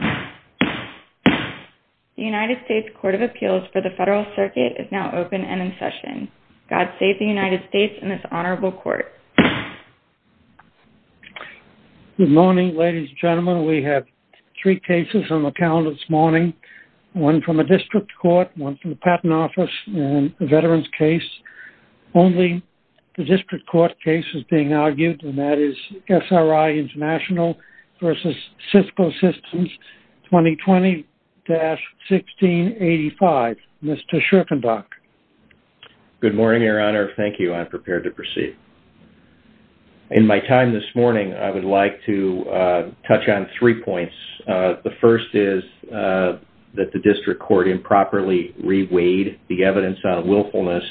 The United States Court of Appeals for the Federal Circuit is now open and in session. God save the United States and this honorable court. Good morning, ladies and gentlemen. We have three cases on the calendar this morning. One from a district court, one from the patent office, and a veterans case. Only the district court case is being argued, and that is SRI International v. Cisco Systems. 2020-1685. Mr. Schrippenbach. Good morning, Your Honor. Thank you. I'm prepared to proceed. In my time this morning, I would like to touch on three points. The first is that the district court improperly reweighed the evidence on willfulness.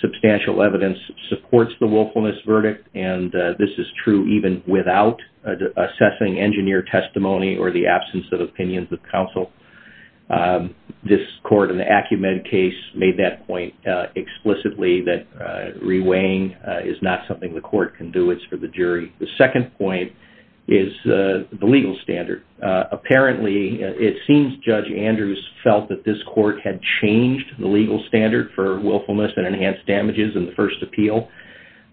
Substantial evidence supports the willfulness verdict, and this is true even without assessing engineer testimony or the absence of opinions of counsel. This court in the Acumen case made that point explicitly that reweighing is not something the court can do. It's for the jury. The second point is the legal standard. Apparently, it seems Judge Andrews felt that this court had changed the legal standard for willfulness and enhanced damages in the first appeal.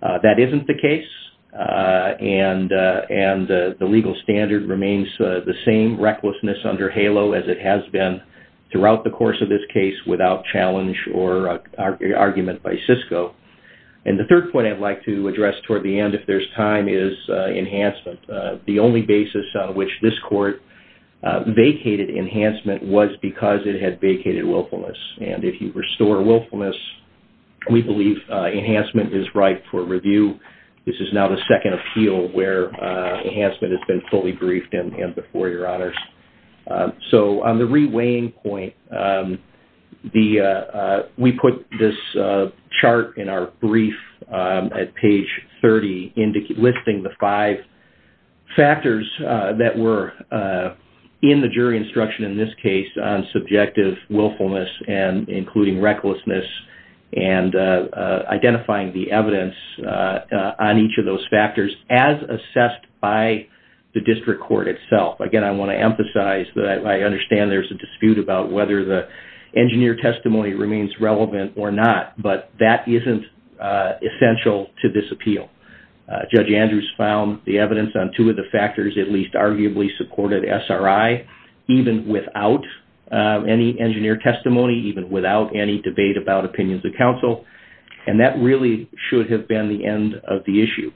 That isn't the case, and the legal standard remains the same, recklessness under HALO as it has been throughout the course of this case without challenge or argument by Cisco. And the third point I'd like to address toward the end if there's time is enhancement. The only basis on which this court vacated enhancement was because it had vacated willfulness. And if you restore willfulness, we believe enhancement is right for review. This is now the second appeal where enhancement has been fully briefed and before your honors. So on the reweighing point, we put this chart in our brief at page 30 listing the five factors that were in the jury instruction in this case on subjective willfulness and including recklessness and identifying the evidence on each of those factors as assessed by the district court itself. Again, I want to emphasize that I understand there's a dispute about whether the engineer testimony remains relevant or not, but that isn't essential to this appeal. Judge Andrews found the evidence on two of the factors at least arguably supported SRI, even without any engineer testimony, even without any debate about opinions of counsel, and that really should have been the end of the issue.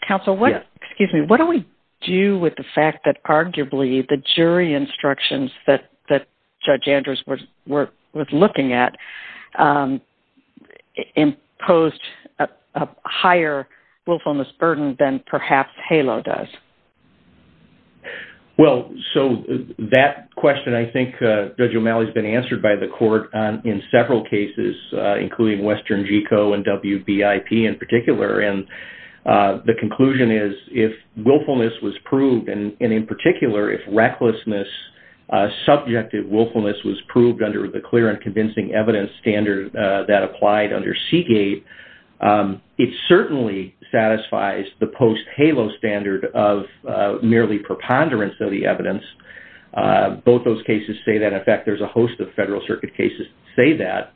Counsel, what do we do with the fact that arguably the jury instructions that Judge Andrews was looking at imposed a higher willfulness burden than perhaps HALO does? Well, so that question I think, Judge O'Malley, has been answered by the court in several cases, including Western GECO and WBIP in particular. And the conclusion is if willfulness was proved, and in particular if recklessness, subjective willfulness was proved under the clear and convincing evidence standard that applied under Seagate, it certainly satisfies the post-HALO standard of merely preponderance of the evidence. Both those cases say that. In fact, there's a host of Federal Circuit cases that say that.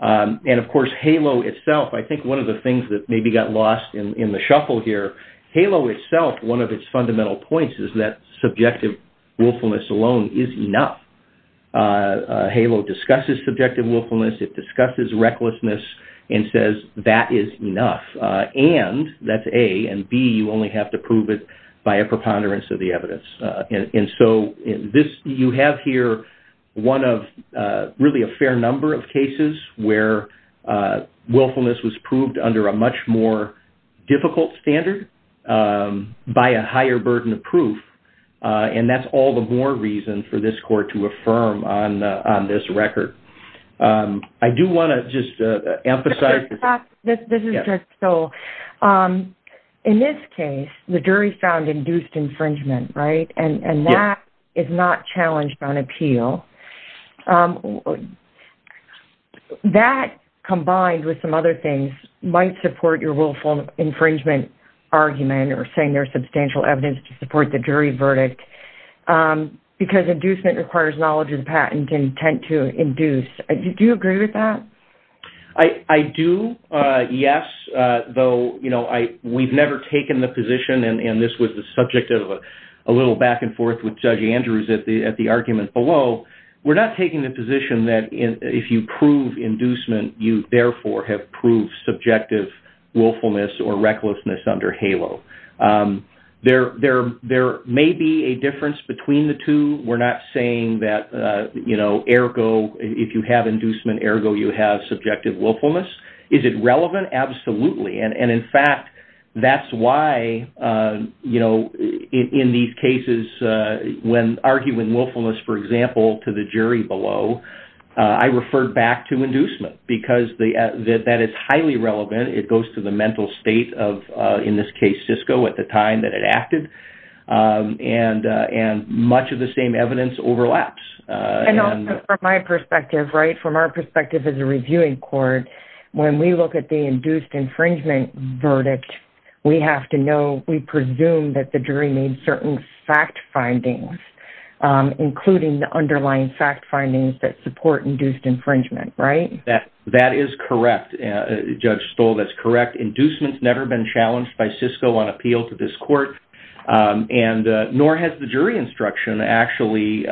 And of course HALO itself, I think one of the things that maybe got lost in the shuffle here, HALO itself, one of its fundamental points is that subjective willfulness alone is enough. HALO discusses subjective willfulness, it discusses recklessness, and says that is enough. And that's A, and B, you only have to prove it by a preponderance of the evidence. And so you have here one of really a fair number of cases where willfulness was proved under a much more difficult standard by a higher burden of proof. And that's all the more reason for this court to affirm on this record. I do want to just emphasize... This is just so. In this case, the jury found induced infringement, right? And that is not challenged on appeal. That combined with some other things might support your willful infringement argument or saying there's substantial evidence to support the jury verdict because inducement requires knowledge and patent and intent to induce. Do you agree with that? I do, yes, though we've never taken the position, and this was the subject of a little back and forth with Judge Andrews at the argument below, we're not taking the position that if you prove inducement, you therefore have proved subjective willfulness or recklessness under HALO. There may be a difference between the two. We're not saying that, you know, ergo if you have inducement, ergo you have subjective willfulness. Is it relevant? Absolutely. And, in fact, that's why, you know, in these cases when arguing willfulness, for example, to the jury below, I refer back to inducement because that is highly relevant. It goes to the mental state of, in this case, Cisco at the time that it acted. And much of the same evidence overlaps. And also from my perspective, right, from our perspective as a reviewing court, when we look at the induced infringement verdict, we have to know, we presume that the jury made certain fact findings, including the underlying fact findings that support induced infringement, right? Inducement's never been challenged by Cisco on appeal to this court, and nor has the jury instruction actually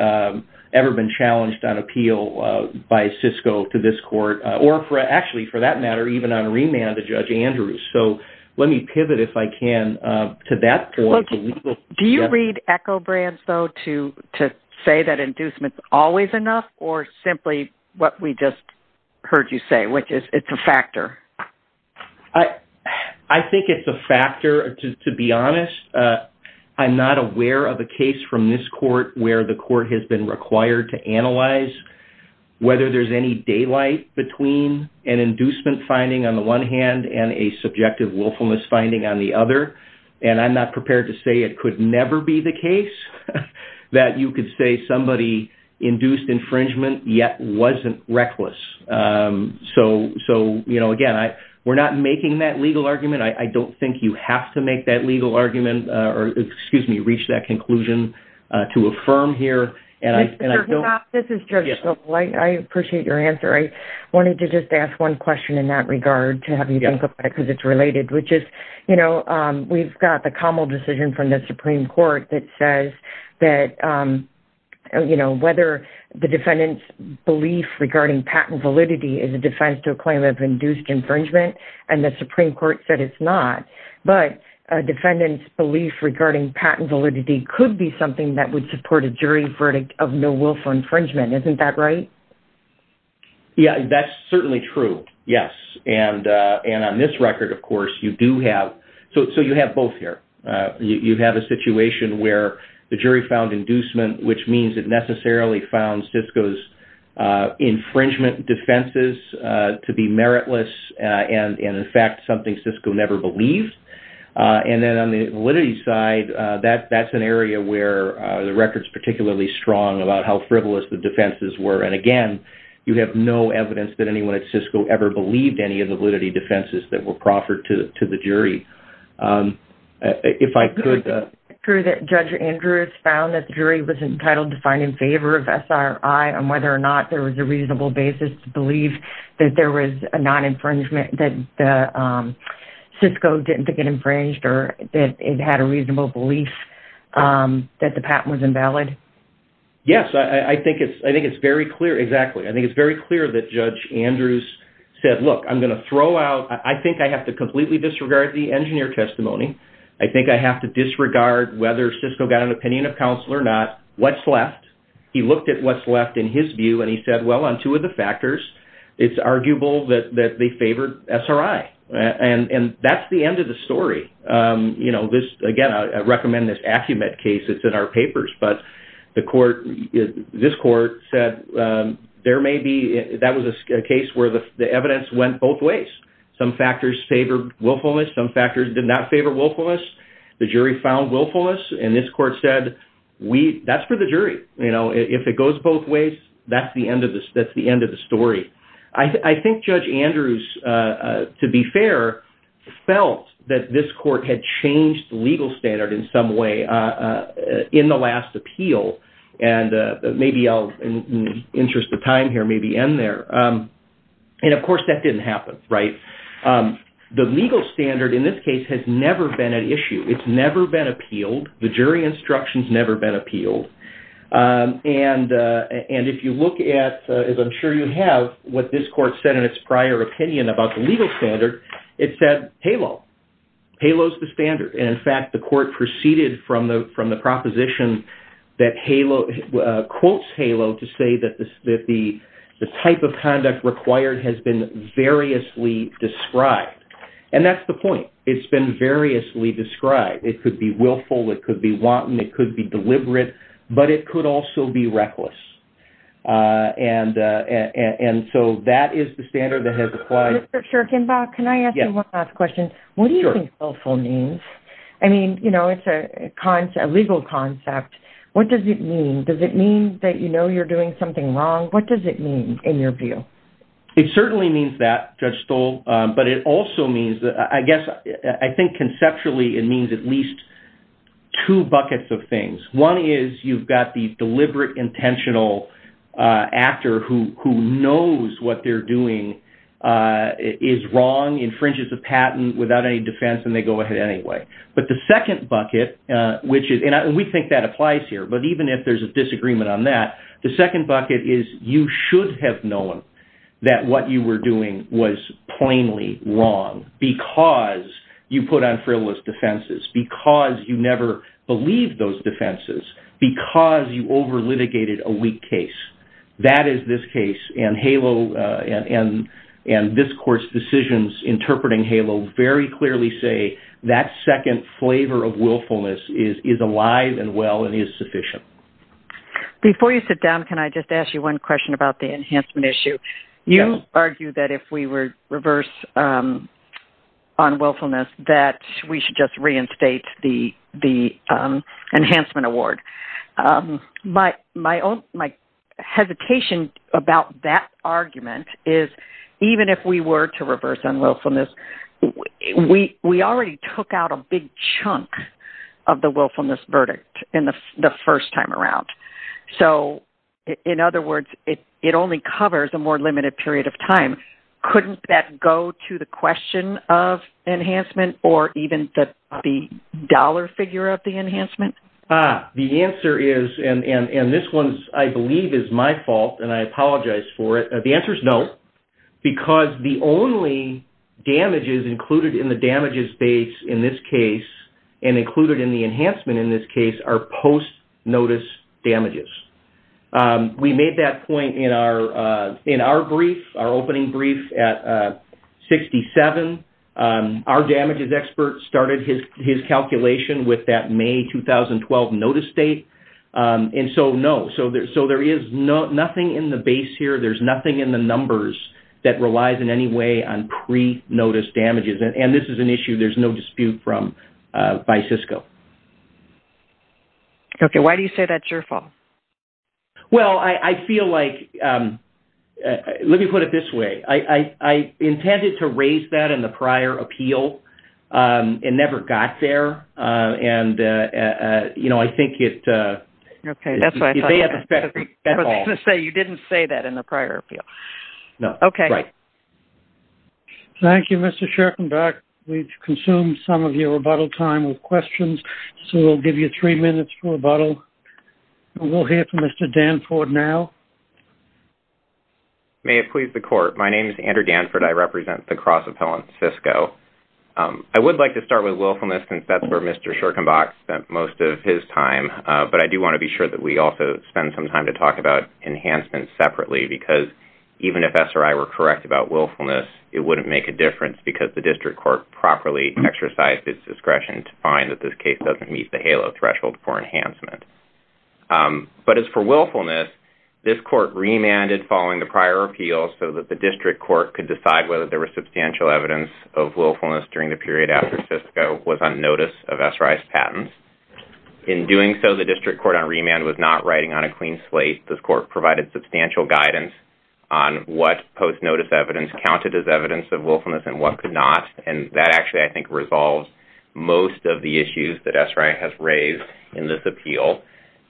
ever been challenged on appeal by Cisco to this court, or actually, for that matter, even on remand to Judge Andrews. So let me pivot, if I can, to that point. Do you read echo brands, though, to say that inducement's always enough or simply what we just heard you say, which is it's a factor? I think it's a factor, to be honest. I'm not aware of a case from this court where the court has been required to analyze whether there's any daylight between an inducement finding on the one hand and a subjective willfulness finding on the other. And I'm not prepared to say it could never be the case that you could say somebody induced infringement yet wasn't reckless. So, you know, again, we're not making that legal argument. I don't think you have to make that legal argument or, excuse me, reach that conclusion to affirm here. And I don't... Mr. Hoppe, this is Judge Hoppe. I appreciate your answer. I wanted to just ask one question in that regard to have you think about it because it's related, which is, you know, we've got the Commel decision from the Supreme Court that says that, you know, whether the defendant's belief regarding patent validity is a defense to a claim of induced infringement, and the Supreme Court said it's not. But a defendant's belief regarding patent validity could be something that would support a jury verdict of no willful infringement. Isn't that right? Yeah, that's certainly true, yes. And on this record, of course, you do have... So you have both here. You have a situation where the jury found inducement, which means it necessarily found Cisco's infringement defenses to be meritless and, in fact, something Cisco never believed. And then on the validity side, that's an area where the record's particularly strong about how frivolous the defenses were. And, again, you have no evidence that anyone at Cisco ever believed any of the validity defenses that were proffered to the jury. If I could... Is it true that Judge Andrews found that the jury was entitled to find in favor of SRI on whether or not there was a reasonable basis to believe that there was a non-infringement, that Cisco didn't think it infringed or that it had a reasonable belief that the patent was invalid? Yes, I think it's very clear. Exactly, I think it's very clear that Judge Andrews said, Look, I'm going to throw out... I think I have to completely disregard the engineer testimony. I think I have to disregard whether Cisco got an opinion of counsel or not. What's left? He looked at what's left in his view and he said, Well, on two of the factors, it's arguable that they favored SRI. And that's the end of the story. Again, I recommend this Acumet case. It's in our papers. But this court said there may be... That was a case where the evidence went both ways. Some factors favored willfulness, some factors did not favor willfulness. The jury found willfulness. And this court said, That's for the jury. If it goes both ways, that's the end of the story. I think Judge Andrews, to be fair, felt that this court had changed the legal standard in some way in the last appeal. And maybe I'll, in the interest of time here, maybe end there. And, of course, that didn't happen, right? The legal standard in this case has never been an issue. It's never been appealed. The jury instruction's never been appealed. And if you look at, as I'm sure you have, what this court said in its prior opinion about the legal standard, it said, Halo. Halo's the standard. And, in fact, the court proceeded from the proposition that Halo, quotes Halo, to say that the type of conduct required has been variously described. And that's the point. It's been variously described. It could be willful. It could be wanton. It could be deliberate. But it could also be reckless. And so that is the standard that has applied. Mr. Schurkenbach, can I ask you one last question? Sure. What do you think willful means? I mean, you know, it's a legal concept. What does it mean? Does it mean that you know you're doing something wrong? What does it mean in your view? It certainly means that, Judge Stoll. But it also means that I guess I think conceptually it means at least two buckets of things. One is you've got the deliberate, intentional actor who knows what they're doing is wrong, infringes a patent without any defense, and they go ahead anyway. But the second bucket, and we think that applies here, but even if there's a disagreement on that, the second bucket is you should have known that what you were doing was plainly wrong because you put on frivolous defenses, because you never believed those defenses, because you over-litigated a weak case. That is this case, and this court's decisions interpreting HALO very clearly say that second flavor of willfulness is alive and well and is sufficient. Before you sit down, can I just ask you one question about the enhancement issue? You argue that if we were reverse on willfulness that we should just reinstate the enhancement award. My hesitation about that argument is even if we were to reverse on willfulness, we already took out a big chunk of the willfulness verdict the first time around. So in other words, it only covers a more limited period of time. Couldn't that go to the question of enhancement or even the dollar figure of the enhancement? The answer is, and this one I believe is my fault and I apologize for it, the answer is no because the only damages included in the damages base in this case and included in the enhancement in this case are post-notice damages. We made that point in our brief, our opening brief at 67. Our damages expert started his calculation with that May 2012 notice date, and so no. So there is nothing in the base here. There's nothing in the numbers that relies in any way on pre-notice damages, and this is an issue there's no dispute from by Cisco. Okay, why do you say that's your fault? Well, I feel like, let me put it this way. I intended to raise that in the prior appeal. It never got there, and, you know, I think it's... Okay, that's what I thought. I was going to say you didn't say that in the prior appeal. No. Okay. Right. Thank you, Mr. Schorkenberg. We've consumed some of your rebuttal time with questions, so we'll give you three minutes for rebuttal, and we'll hear from Mr. Danford now. May it please the Court. My name is Andrew Danford. I represent the cross-appellant Cisco. I would like to start with willfulness since that's where Mr. Schorkenberg spent most of his time, but I do want to be sure that we also spend some time to talk about enhancement separately because even if SRI were correct about willfulness, it wouldn't make a difference because the district court properly exercised its discretion to find that this case doesn't meet the HALO threshold for enhancement. But as for willfulness, this court remanded following the prior appeal so that the district court could decide whether there was substantial evidence of willfulness during the period after Cisco was on notice of SRI's patents. In doing so, the district court on remand was not writing on a clean slate. The court provided substantial guidance on what post-notice evidence counted as evidence of willfulness and what could not, and that actually, I think, resolves most of the issues that SRI has raised in this appeal.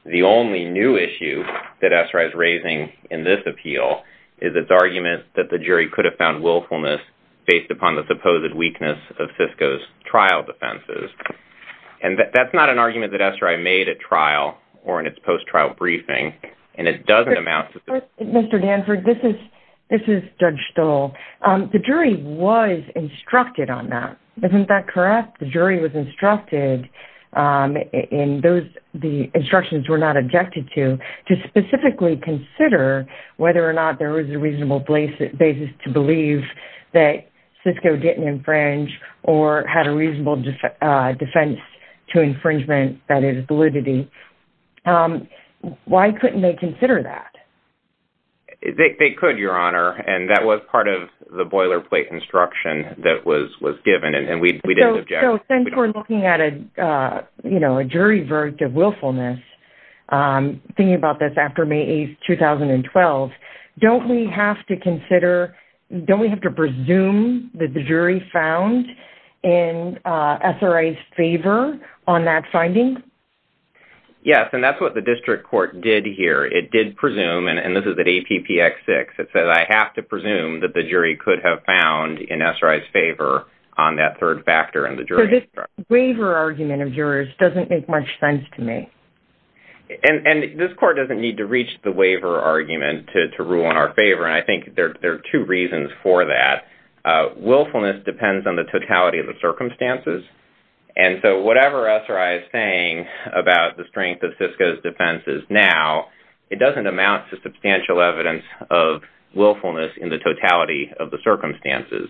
The only new issue that SRI is raising in this appeal is its argument that the jury could have found willfulness based upon the supposed weakness of Cisco's trial defenses. And that's not an argument that SRI made at trial or in its post-trial briefing, and it doesn't amount to... Mr. Danford, this is Judge Stoll. The jury was instructed on that. Isn't that correct? The jury was instructed, and the instructions were not objected to, to specifically consider whether or not there was a reasonable basis to believe that Cisco didn't infringe or had a reasonable defense to infringement that is validity. Why couldn't they consider that? They could, Your Honor, and that was part of the boilerplate instruction that was given, and we didn't object. So since we're looking at a jury verdict of willfulness, thinking about this after May 8, 2012, don't we have to presume that the jury found in SRI's favor on that finding? Yes, and that's what the district court did here. It did presume, and this is at APPX6, it says I have to presume that the jury could have found in SRI's favor on that third factor in the jury. So this waiver argument of yours doesn't make much sense to me. And this court doesn't need to reach the waiver argument to rule in our favor, and I think there are two reasons for that. Willfulness depends on the totality of the circumstances, and so whatever SRI is saying about the strength of Cisco's defenses now, it doesn't amount to substantial evidence of willfulness in the totality of the circumstances.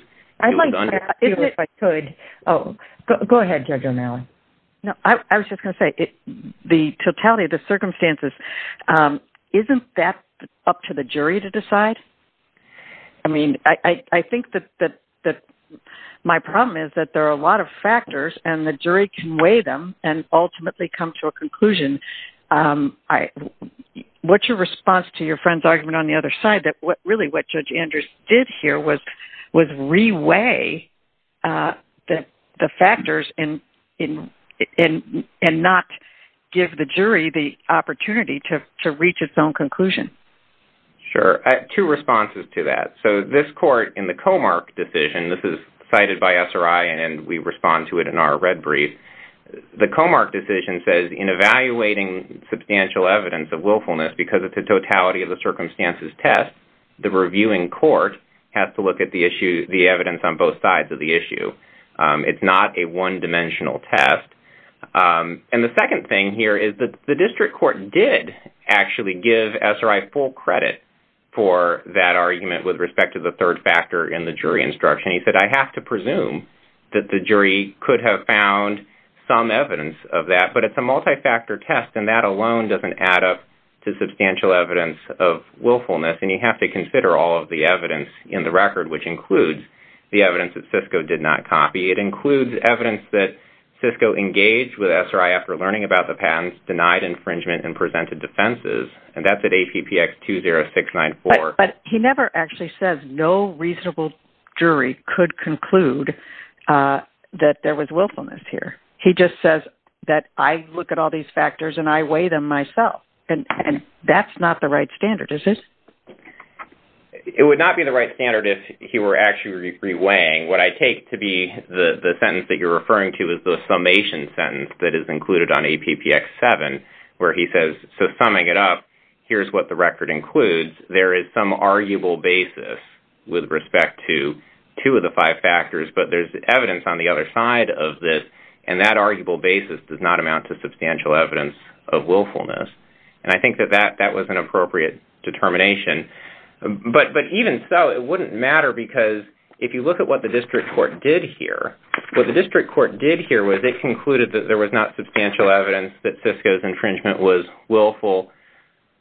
Go ahead, Judge O'Malley. I was just going to say, the totality of the circumstances, I mean, I think that my problem is that there are a lot of factors and the jury can weigh them and ultimately come to a conclusion. What's your response to your friend's argument on the other side, that really what Judge Anders did here was re-weigh the factors and not give the jury the opportunity to reach its own conclusion? Sure. Two responses to that. So this court in the Comark decision, this is cited by SRI and we respond to it in our red brief. The Comark decision says in evaluating substantial evidence of willfulness because of the totality of the circumstances test, the reviewing court has to look at the evidence on both sides of the issue. It's not a one-dimensional test. And the second thing here is that the district court did actually give SRI full credit for that argument with respect to the third factor in the jury instruction. He said, I have to presume that the jury could have found some evidence of that, but it's a multi-factor test and that alone doesn't add up to substantial evidence of willfulness and you have to consider all of the evidence in the record, which includes the evidence that Cisco did not copy. It includes evidence that Cisco engaged with SRI after learning about the patents, denied infringement, and presented defenses, and that's at APPX 20694. But he never actually says no reasonable jury could conclude that there was willfulness here. He just says that I look at all these factors and I weigh them myself, and that's not the right standard, is it? It would not be the right standard if he were actually re-weighing. What I take to be the sentence that you're referring to is the summation sentence that is included on APPX 7 where he says, so summing it up, here's what the record includes. There is some arguable basis with respect to two of the five factors, but there's evidence on the other side of this, and that arguable basis does not amount to substantial evidence of willfulness. And I think that that was an appropriate determination. But even so, it wouldn't matter because if you look at what the district court did here, what the district court did here was it concluded that there was not substantial evidence that Cisco's infringement was willful,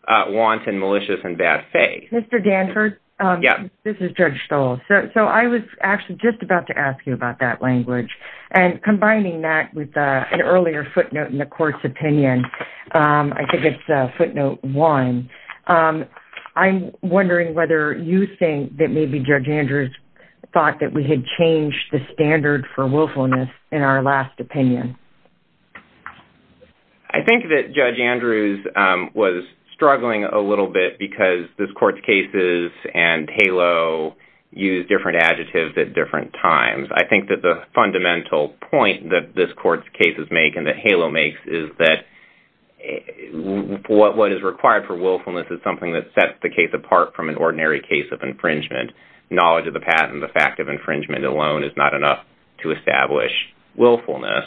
wanton, malicious, and bad faith. Mr. Danford, this is Judge Stoll. So I was actually just about to ask you about that language, and combining that with an earlier footnote in the court's opinion, I think it's footnote one, I'm wondering whether you think that maybe Judge Andrews thought that we had changed the standard for willfulness in our last opinion. I think that Judge Andrews was struggling a little bit because this court's cases and HALO use different adjectives at different times. I think that the fundamental point that this court's cases make and that HALO makes is that what is required for willfulness is something that sets the case apart from an ordinary case of infringement. Knowledge of the patent and the fact of infringement alone is not enough to establish willfulness.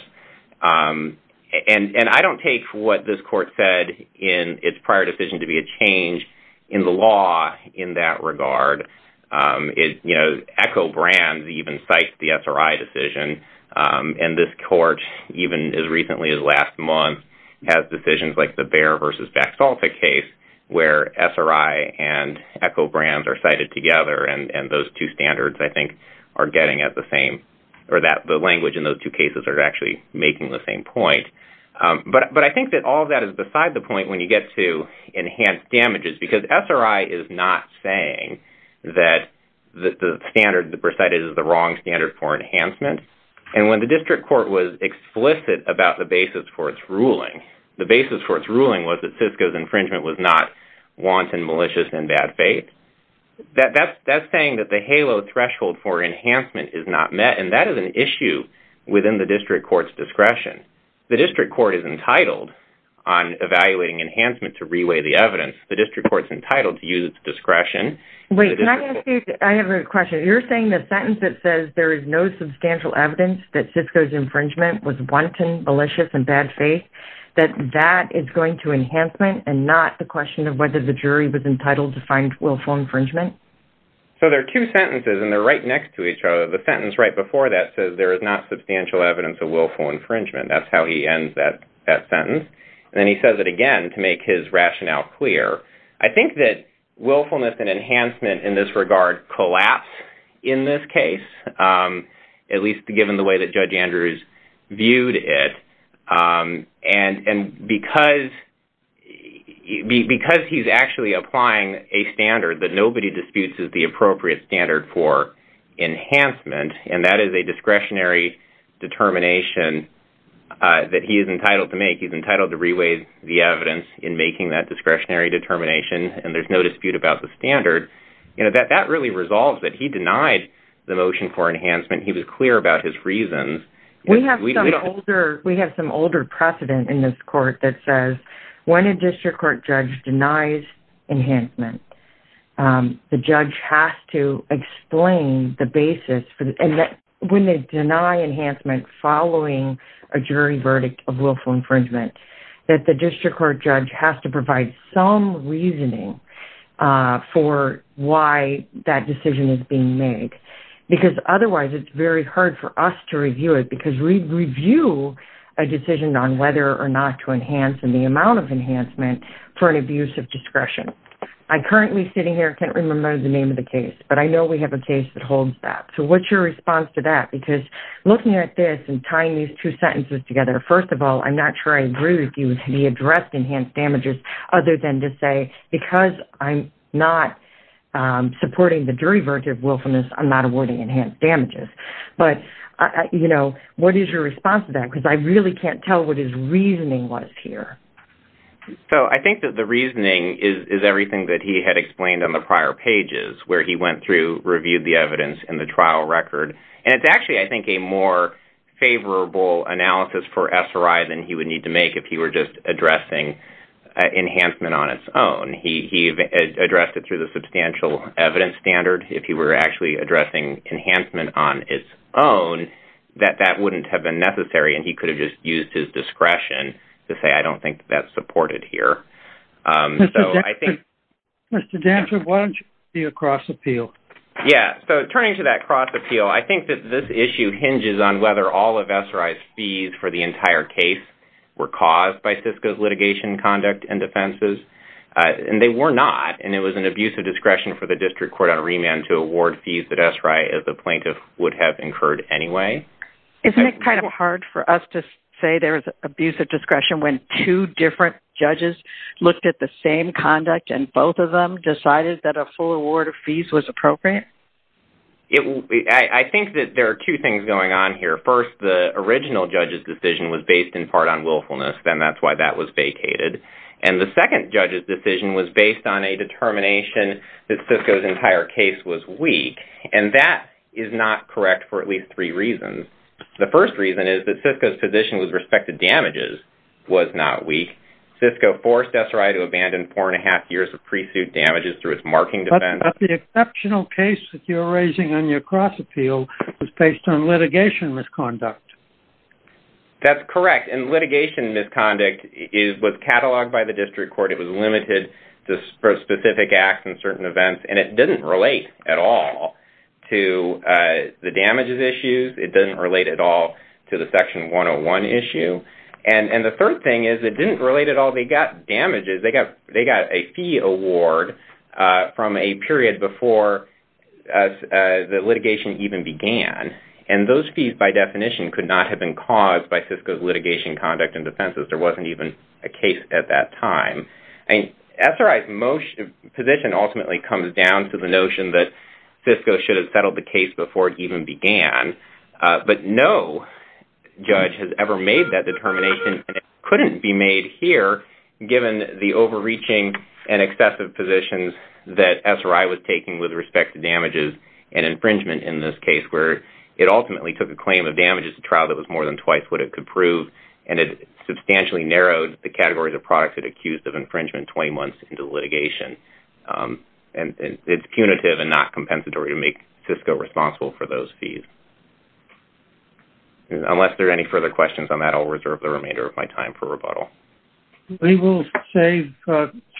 And I don't take what this court said in its prior decision to be a change in the law in that regard. ECHO Brands even cites the SRI decision, and this court, even as recently as last month, has decisions like the Bayer v. Vaxalta case where SRI and ECHO Brands are cited together, and those two standards, I think, are getting at the same, or the language in those two cases are actually making the same point. But I think that all of that is beside the point when you get to enhanced damages, because SRI is not saying that the standard recited is the wrong standard for enhancement. And when the district court was explicit about the basis for its ruling, the basis for its ruling was that Cisco's infringement was not wanton, malicious, and bad faith. That's saying that the HALO threshold for enhancement is not met, and that is an issue within the district court's discretion. The district court is entitled on evaluating enhancement to reweigh the evidence. The district court is entitled to use its discretion. Wait, can I ask you, I have a question. You're saying the sentence that says there is no substantial evidence that Cisco's infringement was wanton, malicious, and bad faith, that that is going to enhancement and not the question of whether the jury was entitled to find willful infringement? So there are two sentences, and they're right next to each other. The sentence right before that says there is not substantial evidence of willful infringement. That's how he ends that sentence. And then he says it again to make his rationale clear. I think that willfulness and enhancement in this regard collapse in this case, at least given the way that Judge Andrews viewed it. And because he's actually applying a standard that nobody disputes is the appropriate standard for enhancement, and that is a discretionary determination that he is entitled to make. He's entitled to reweigh the evidence in making that discretionary determination, and there's no dispute about the standard. That really resolves it. He denied the motion for enhancement. He was clear about his reasons. We have some older precedent in this court that says when a district court judge denies enhancement, the judge has to explain the basis. When they deny enhancement following a jury verdict of willful infringement, that the district court judge has to provide some reasoning for why that decision is being made, because otherwise it's very hard for us to review it, because we review a decision on whether or not to enhance and the amount of enhancement for an abuse of discretion. I'm currently sitting here. I can't remember the name of the case, but I know we have a case that holds that. So what's your response to that? Because looking at this and tying these two sentences together, first of all, I'm not sure I agree with you that he addressed enhanced damages, other than to say because I'm not supporting the jury verdict of willfulness, I'm not awarding enhanced damages. But, you know, what is your response to that? Because I really can't tell what his reasoning was here. So I think that the reasoning is everything that he had explained on the prior pages, where he went through, reviewed the evidence and the trial record, and it's actually, I think, a more favorable analysis for SRI than he would need to make if he were just addressing enhancement on its own. He addressed it through the substantial evidence standard. If he were actually addressing enhancement on its own, that that wouldn't have been necessary, and he could have just used his discretion to say I don't think that's supported here. Mr. Danford, why don't you do a cross appeal? Yeah, so turning to that cross appeal, I think that this issue hinges on whether all of SRI's fees for the entire case were caused by SISCO's litigation conduct and defenses. And they were not, and it was an abuse of discretion for the district court on remand to award fees that SRI as a plaintiff would have incurred anyway. Isn't it kind of hard for us to say there is abuse of discretion when two different judges looked at the same conduct and both of them decided that a full award of fees was appropriate? I think that there are two things going on here. First, the original judge's decision was based in part on willfulness, and that's why that was vacated. And the second judge's decision was based on a determination that SISCO's entire case was weak, and that is not correct for at least three reasons. The first reason is that SISCO's position with respect to damages was not weak. SISCO forced SRI to abandon 4 1⁄2 years of pre-suit damages through its marking defense. But the exceptional case that you're raising on your cross appeal was based on litigation misconduct. That's correct, and litigation misconduct was cataloged by the district court. It was limited to specific acts and certain events, and it didn't relate at all to the damages issues. It doesn't relate at all to the Section 101 issue. And the third thing is it didn't relate at all. They got damages. They got a fee award from a period before the litigation even began, and those fees by definition could not have been caused by SISCO's litigation conduct and defenses. There wasn't even a case at that time. SRI's position ultimately comes down to the notion that SISCO should have settled the case before it even began. But no judge has ever made that determination, and it couldn't be made here given the overreaching and excessive positions that SRI was taking with respect to damages and infringement in this case, where it ultimately took a claim of damages to trial that was more than twice what it could prove, and it substantially narrowed the categories of products it accused of infringement 20 months into litigation. And it's punitive and not compensatory to make SISCO responsible for those fees. Unless there are any further questions on that, I'll reserve the remainder of my time for rebuttal. We will save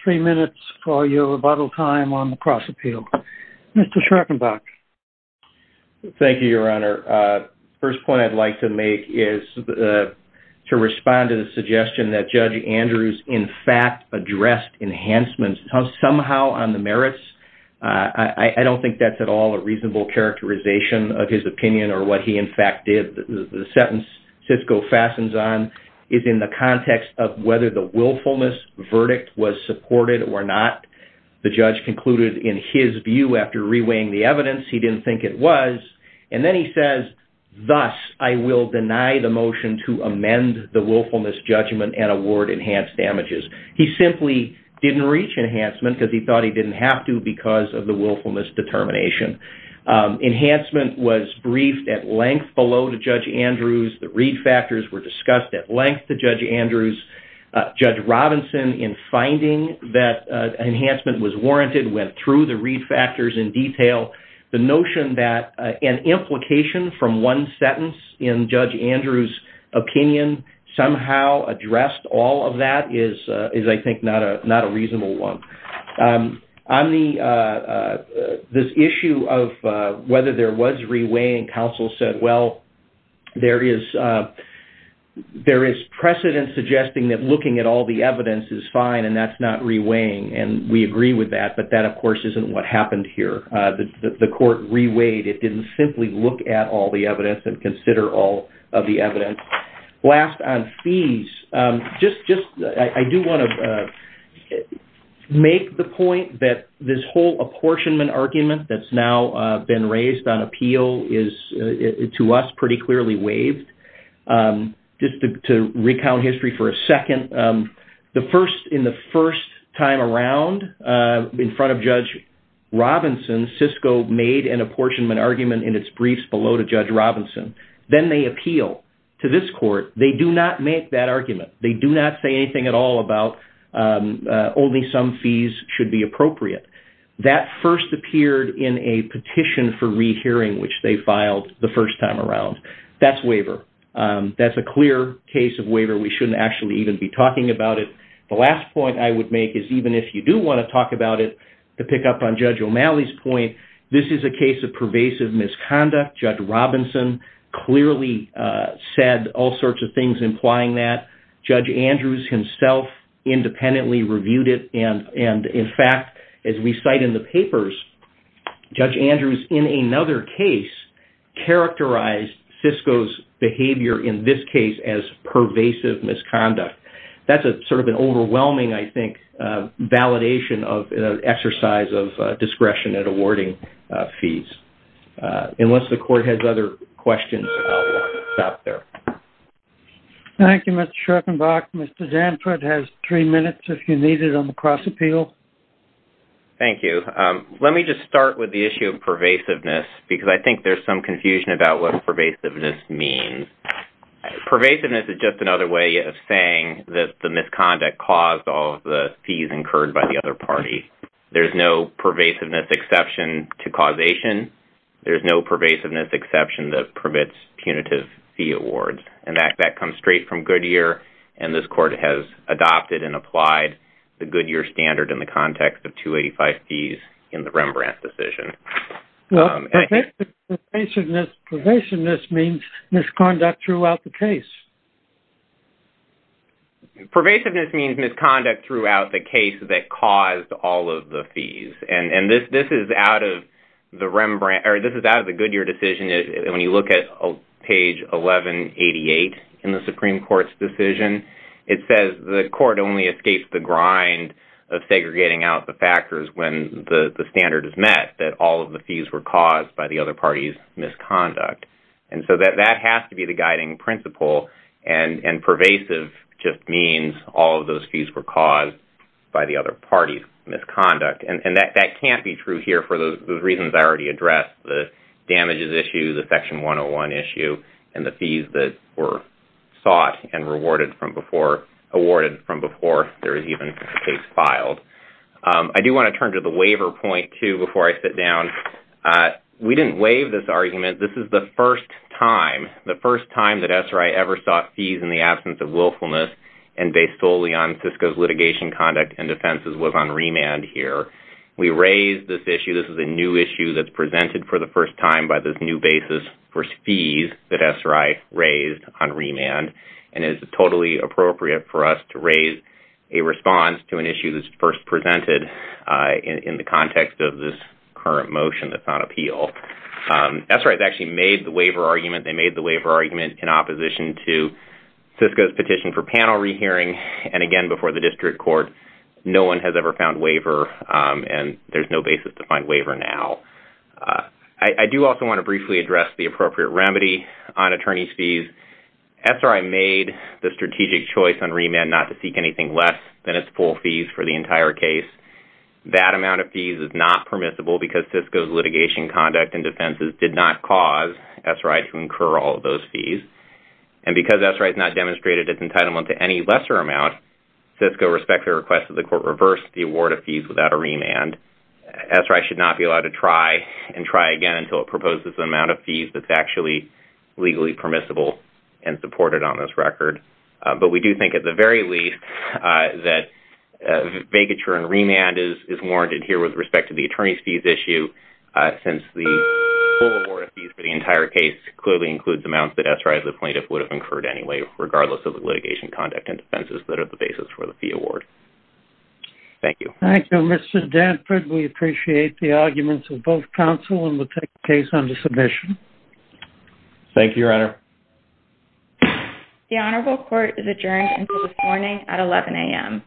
three minutes for your rebuttal time on the cross-appeal. Mr. Schorkenbach. Thank you, Your Honor. The first point I'd like to make is to respond to the suggestion that Judge Andrews, in fact, addressed enhancements somehow on the merits. I don't think that's at all a reasonable characterization of his opinion or what he, in fact, did. The sentence SISCO fastens on is in the context of whether the willfulness verdict was supported or not. The judge concluded, in his view, after reweighing the evidence, he didn't think it was. And then he says, thus, I will deny the motion to amend the willfulness judgment and award enhanced damages. He simply didn't reach enhancement because he thought he didn't have to because of the willfulness determination. Enhancement was briefed at length below to Judge Andrews. The read factors were discussed at length to Judge Andrews. Judge Robinson, in finding that enhancement was warranted, went through the read factors in detail. The notion that an implication from one sentence in Judge Andrews' opinion somehow addressed all of that is, I think, not a reasonable one. On this issue of whether there was reweighing, counsel said, well, there is precedent suggesting that looking at all the evidence is fine and that's not reweighing. And we agree with that, but that, of course, isn't what happened here. The court reweighed. It didn't simply look at all the evidence and consider all of the evidence. Last, on fees, I do want to make the point that this whole apportionment argument that's now been raised on appeal is, to us, pretty clearly waived. Just to recount history for a second, in the first time around, in front of Judge Robinson, Cisco made an apportionment argument in its briefs below to Judge Robinson. Then they appeal to this court. They do not make that argument. They do not say anything at all about only some fees should be appropriate. That first appeared in a petition for rehearing, which they filed the first time around. That's waiver. That's a clear case of waiver. We shouldn't actually even be talking about it. The last point I would make is, even if you do want to talk about it, to pick up on Judge O'Malley's point, this is a case of pervasive misconduct. Judge Robinson clearly said all sorts of things implying that. Judge Andrews himself independently reviewed it. In fact, as we cite in the papers, Judge Andrews, in another case, characterized Cisco's behavior in this case as pervasive misconduct. That's sort of an overwhelming, I think, validation of an exercise of discretion at awarding fees. Unless the court has other questions, I'll stop there. Thank you, Mr. Schopenbach. Mr. Danford has three minutes, if you need it, on the cross-appeal. Thank you. Let me just start with the issue of pervasiveness, because I think there's some confusion about what pervasiveness means. Pervasiveness is just another way of saying that the misconduct caused all of the fees incurred by the other party. There's no pervasiveness exception to causation. There's no pervasiveness exception that permits punitive fee awards. That comes straight from Goodyear, and this court has adopted and applied the Goodyear standard in the context of 285 fees in the Rembrandt decision. Well, pervasiveness means misconduct throughout the case. Pervasiveness means misconduct throughout the case that caused all of the fees. This is out of the Goodyear decision. When you look at page 1188 in the Supreme Court's decision, it says the court only escapes the grind of segregating out the factors when the standard is met, that all of the fees were caused by the other party's misconduct. That has to be the guiding principle, and pervasive just means all of those fees were caused by the other party's misconduct. That can't be true here for the reasons I already addressed, the damages issue, the Section 101 issue, and the fees that were sought and awarded from before there was even a case filed. I do want to turn to the waiver point, too, before I sit down. We didn't waive this argument. This is the first time, the first time that SRI ever sought fees in the absence of willfulness and based solely on FISCA's litigation conduct and defenses was on remand here. We raised this issue. This is a new issue that's presented for the first time by this new basis for fees that SRI raised on remand, and it is totally appropriate for us to raise a response to an issue that's first presented in the context of this current motion that's on appeal. SRI has actually made the waiver argument. They made the waiver argument in opposition to FISCA's petition for panel rehearing, and again, before the district court. No one has ever found waiver, and there's no basis to find waiver now. I do also want to briefly address the appropriate remedy on attorney's fees. SRI made the strategic choice on remand not to seek anything less than its full fees for the entire case. That amount of fees is not permissible because FISCA's litigation conduct and defenses did not cause SRI to incur all of those fees, and because SRI has not demonstrated its entitlement to any lesser amount, FISCA respects the request of the court to reverse the award of fees without a remand. SRI should not be allowed to try and try again until it proposes an amount of fees that's actually legally permissible and supported on this record, but we do think at the very least that vacature and remand is warranted here with respect to the attorney's fees issue since the full award of fees for the entire case clearly includes amounts that SRI as a plaintiff would have incurred anyway, regardless of the litigation conduct and defenses that are the basis for the fee award. Thank you. Thank you, Mr. Danford. We appreciate the arguments of both counsel and will take the case under submission. Thank you, Your Honor. The Honorable Court is adjourned until this morning at 11 a.m.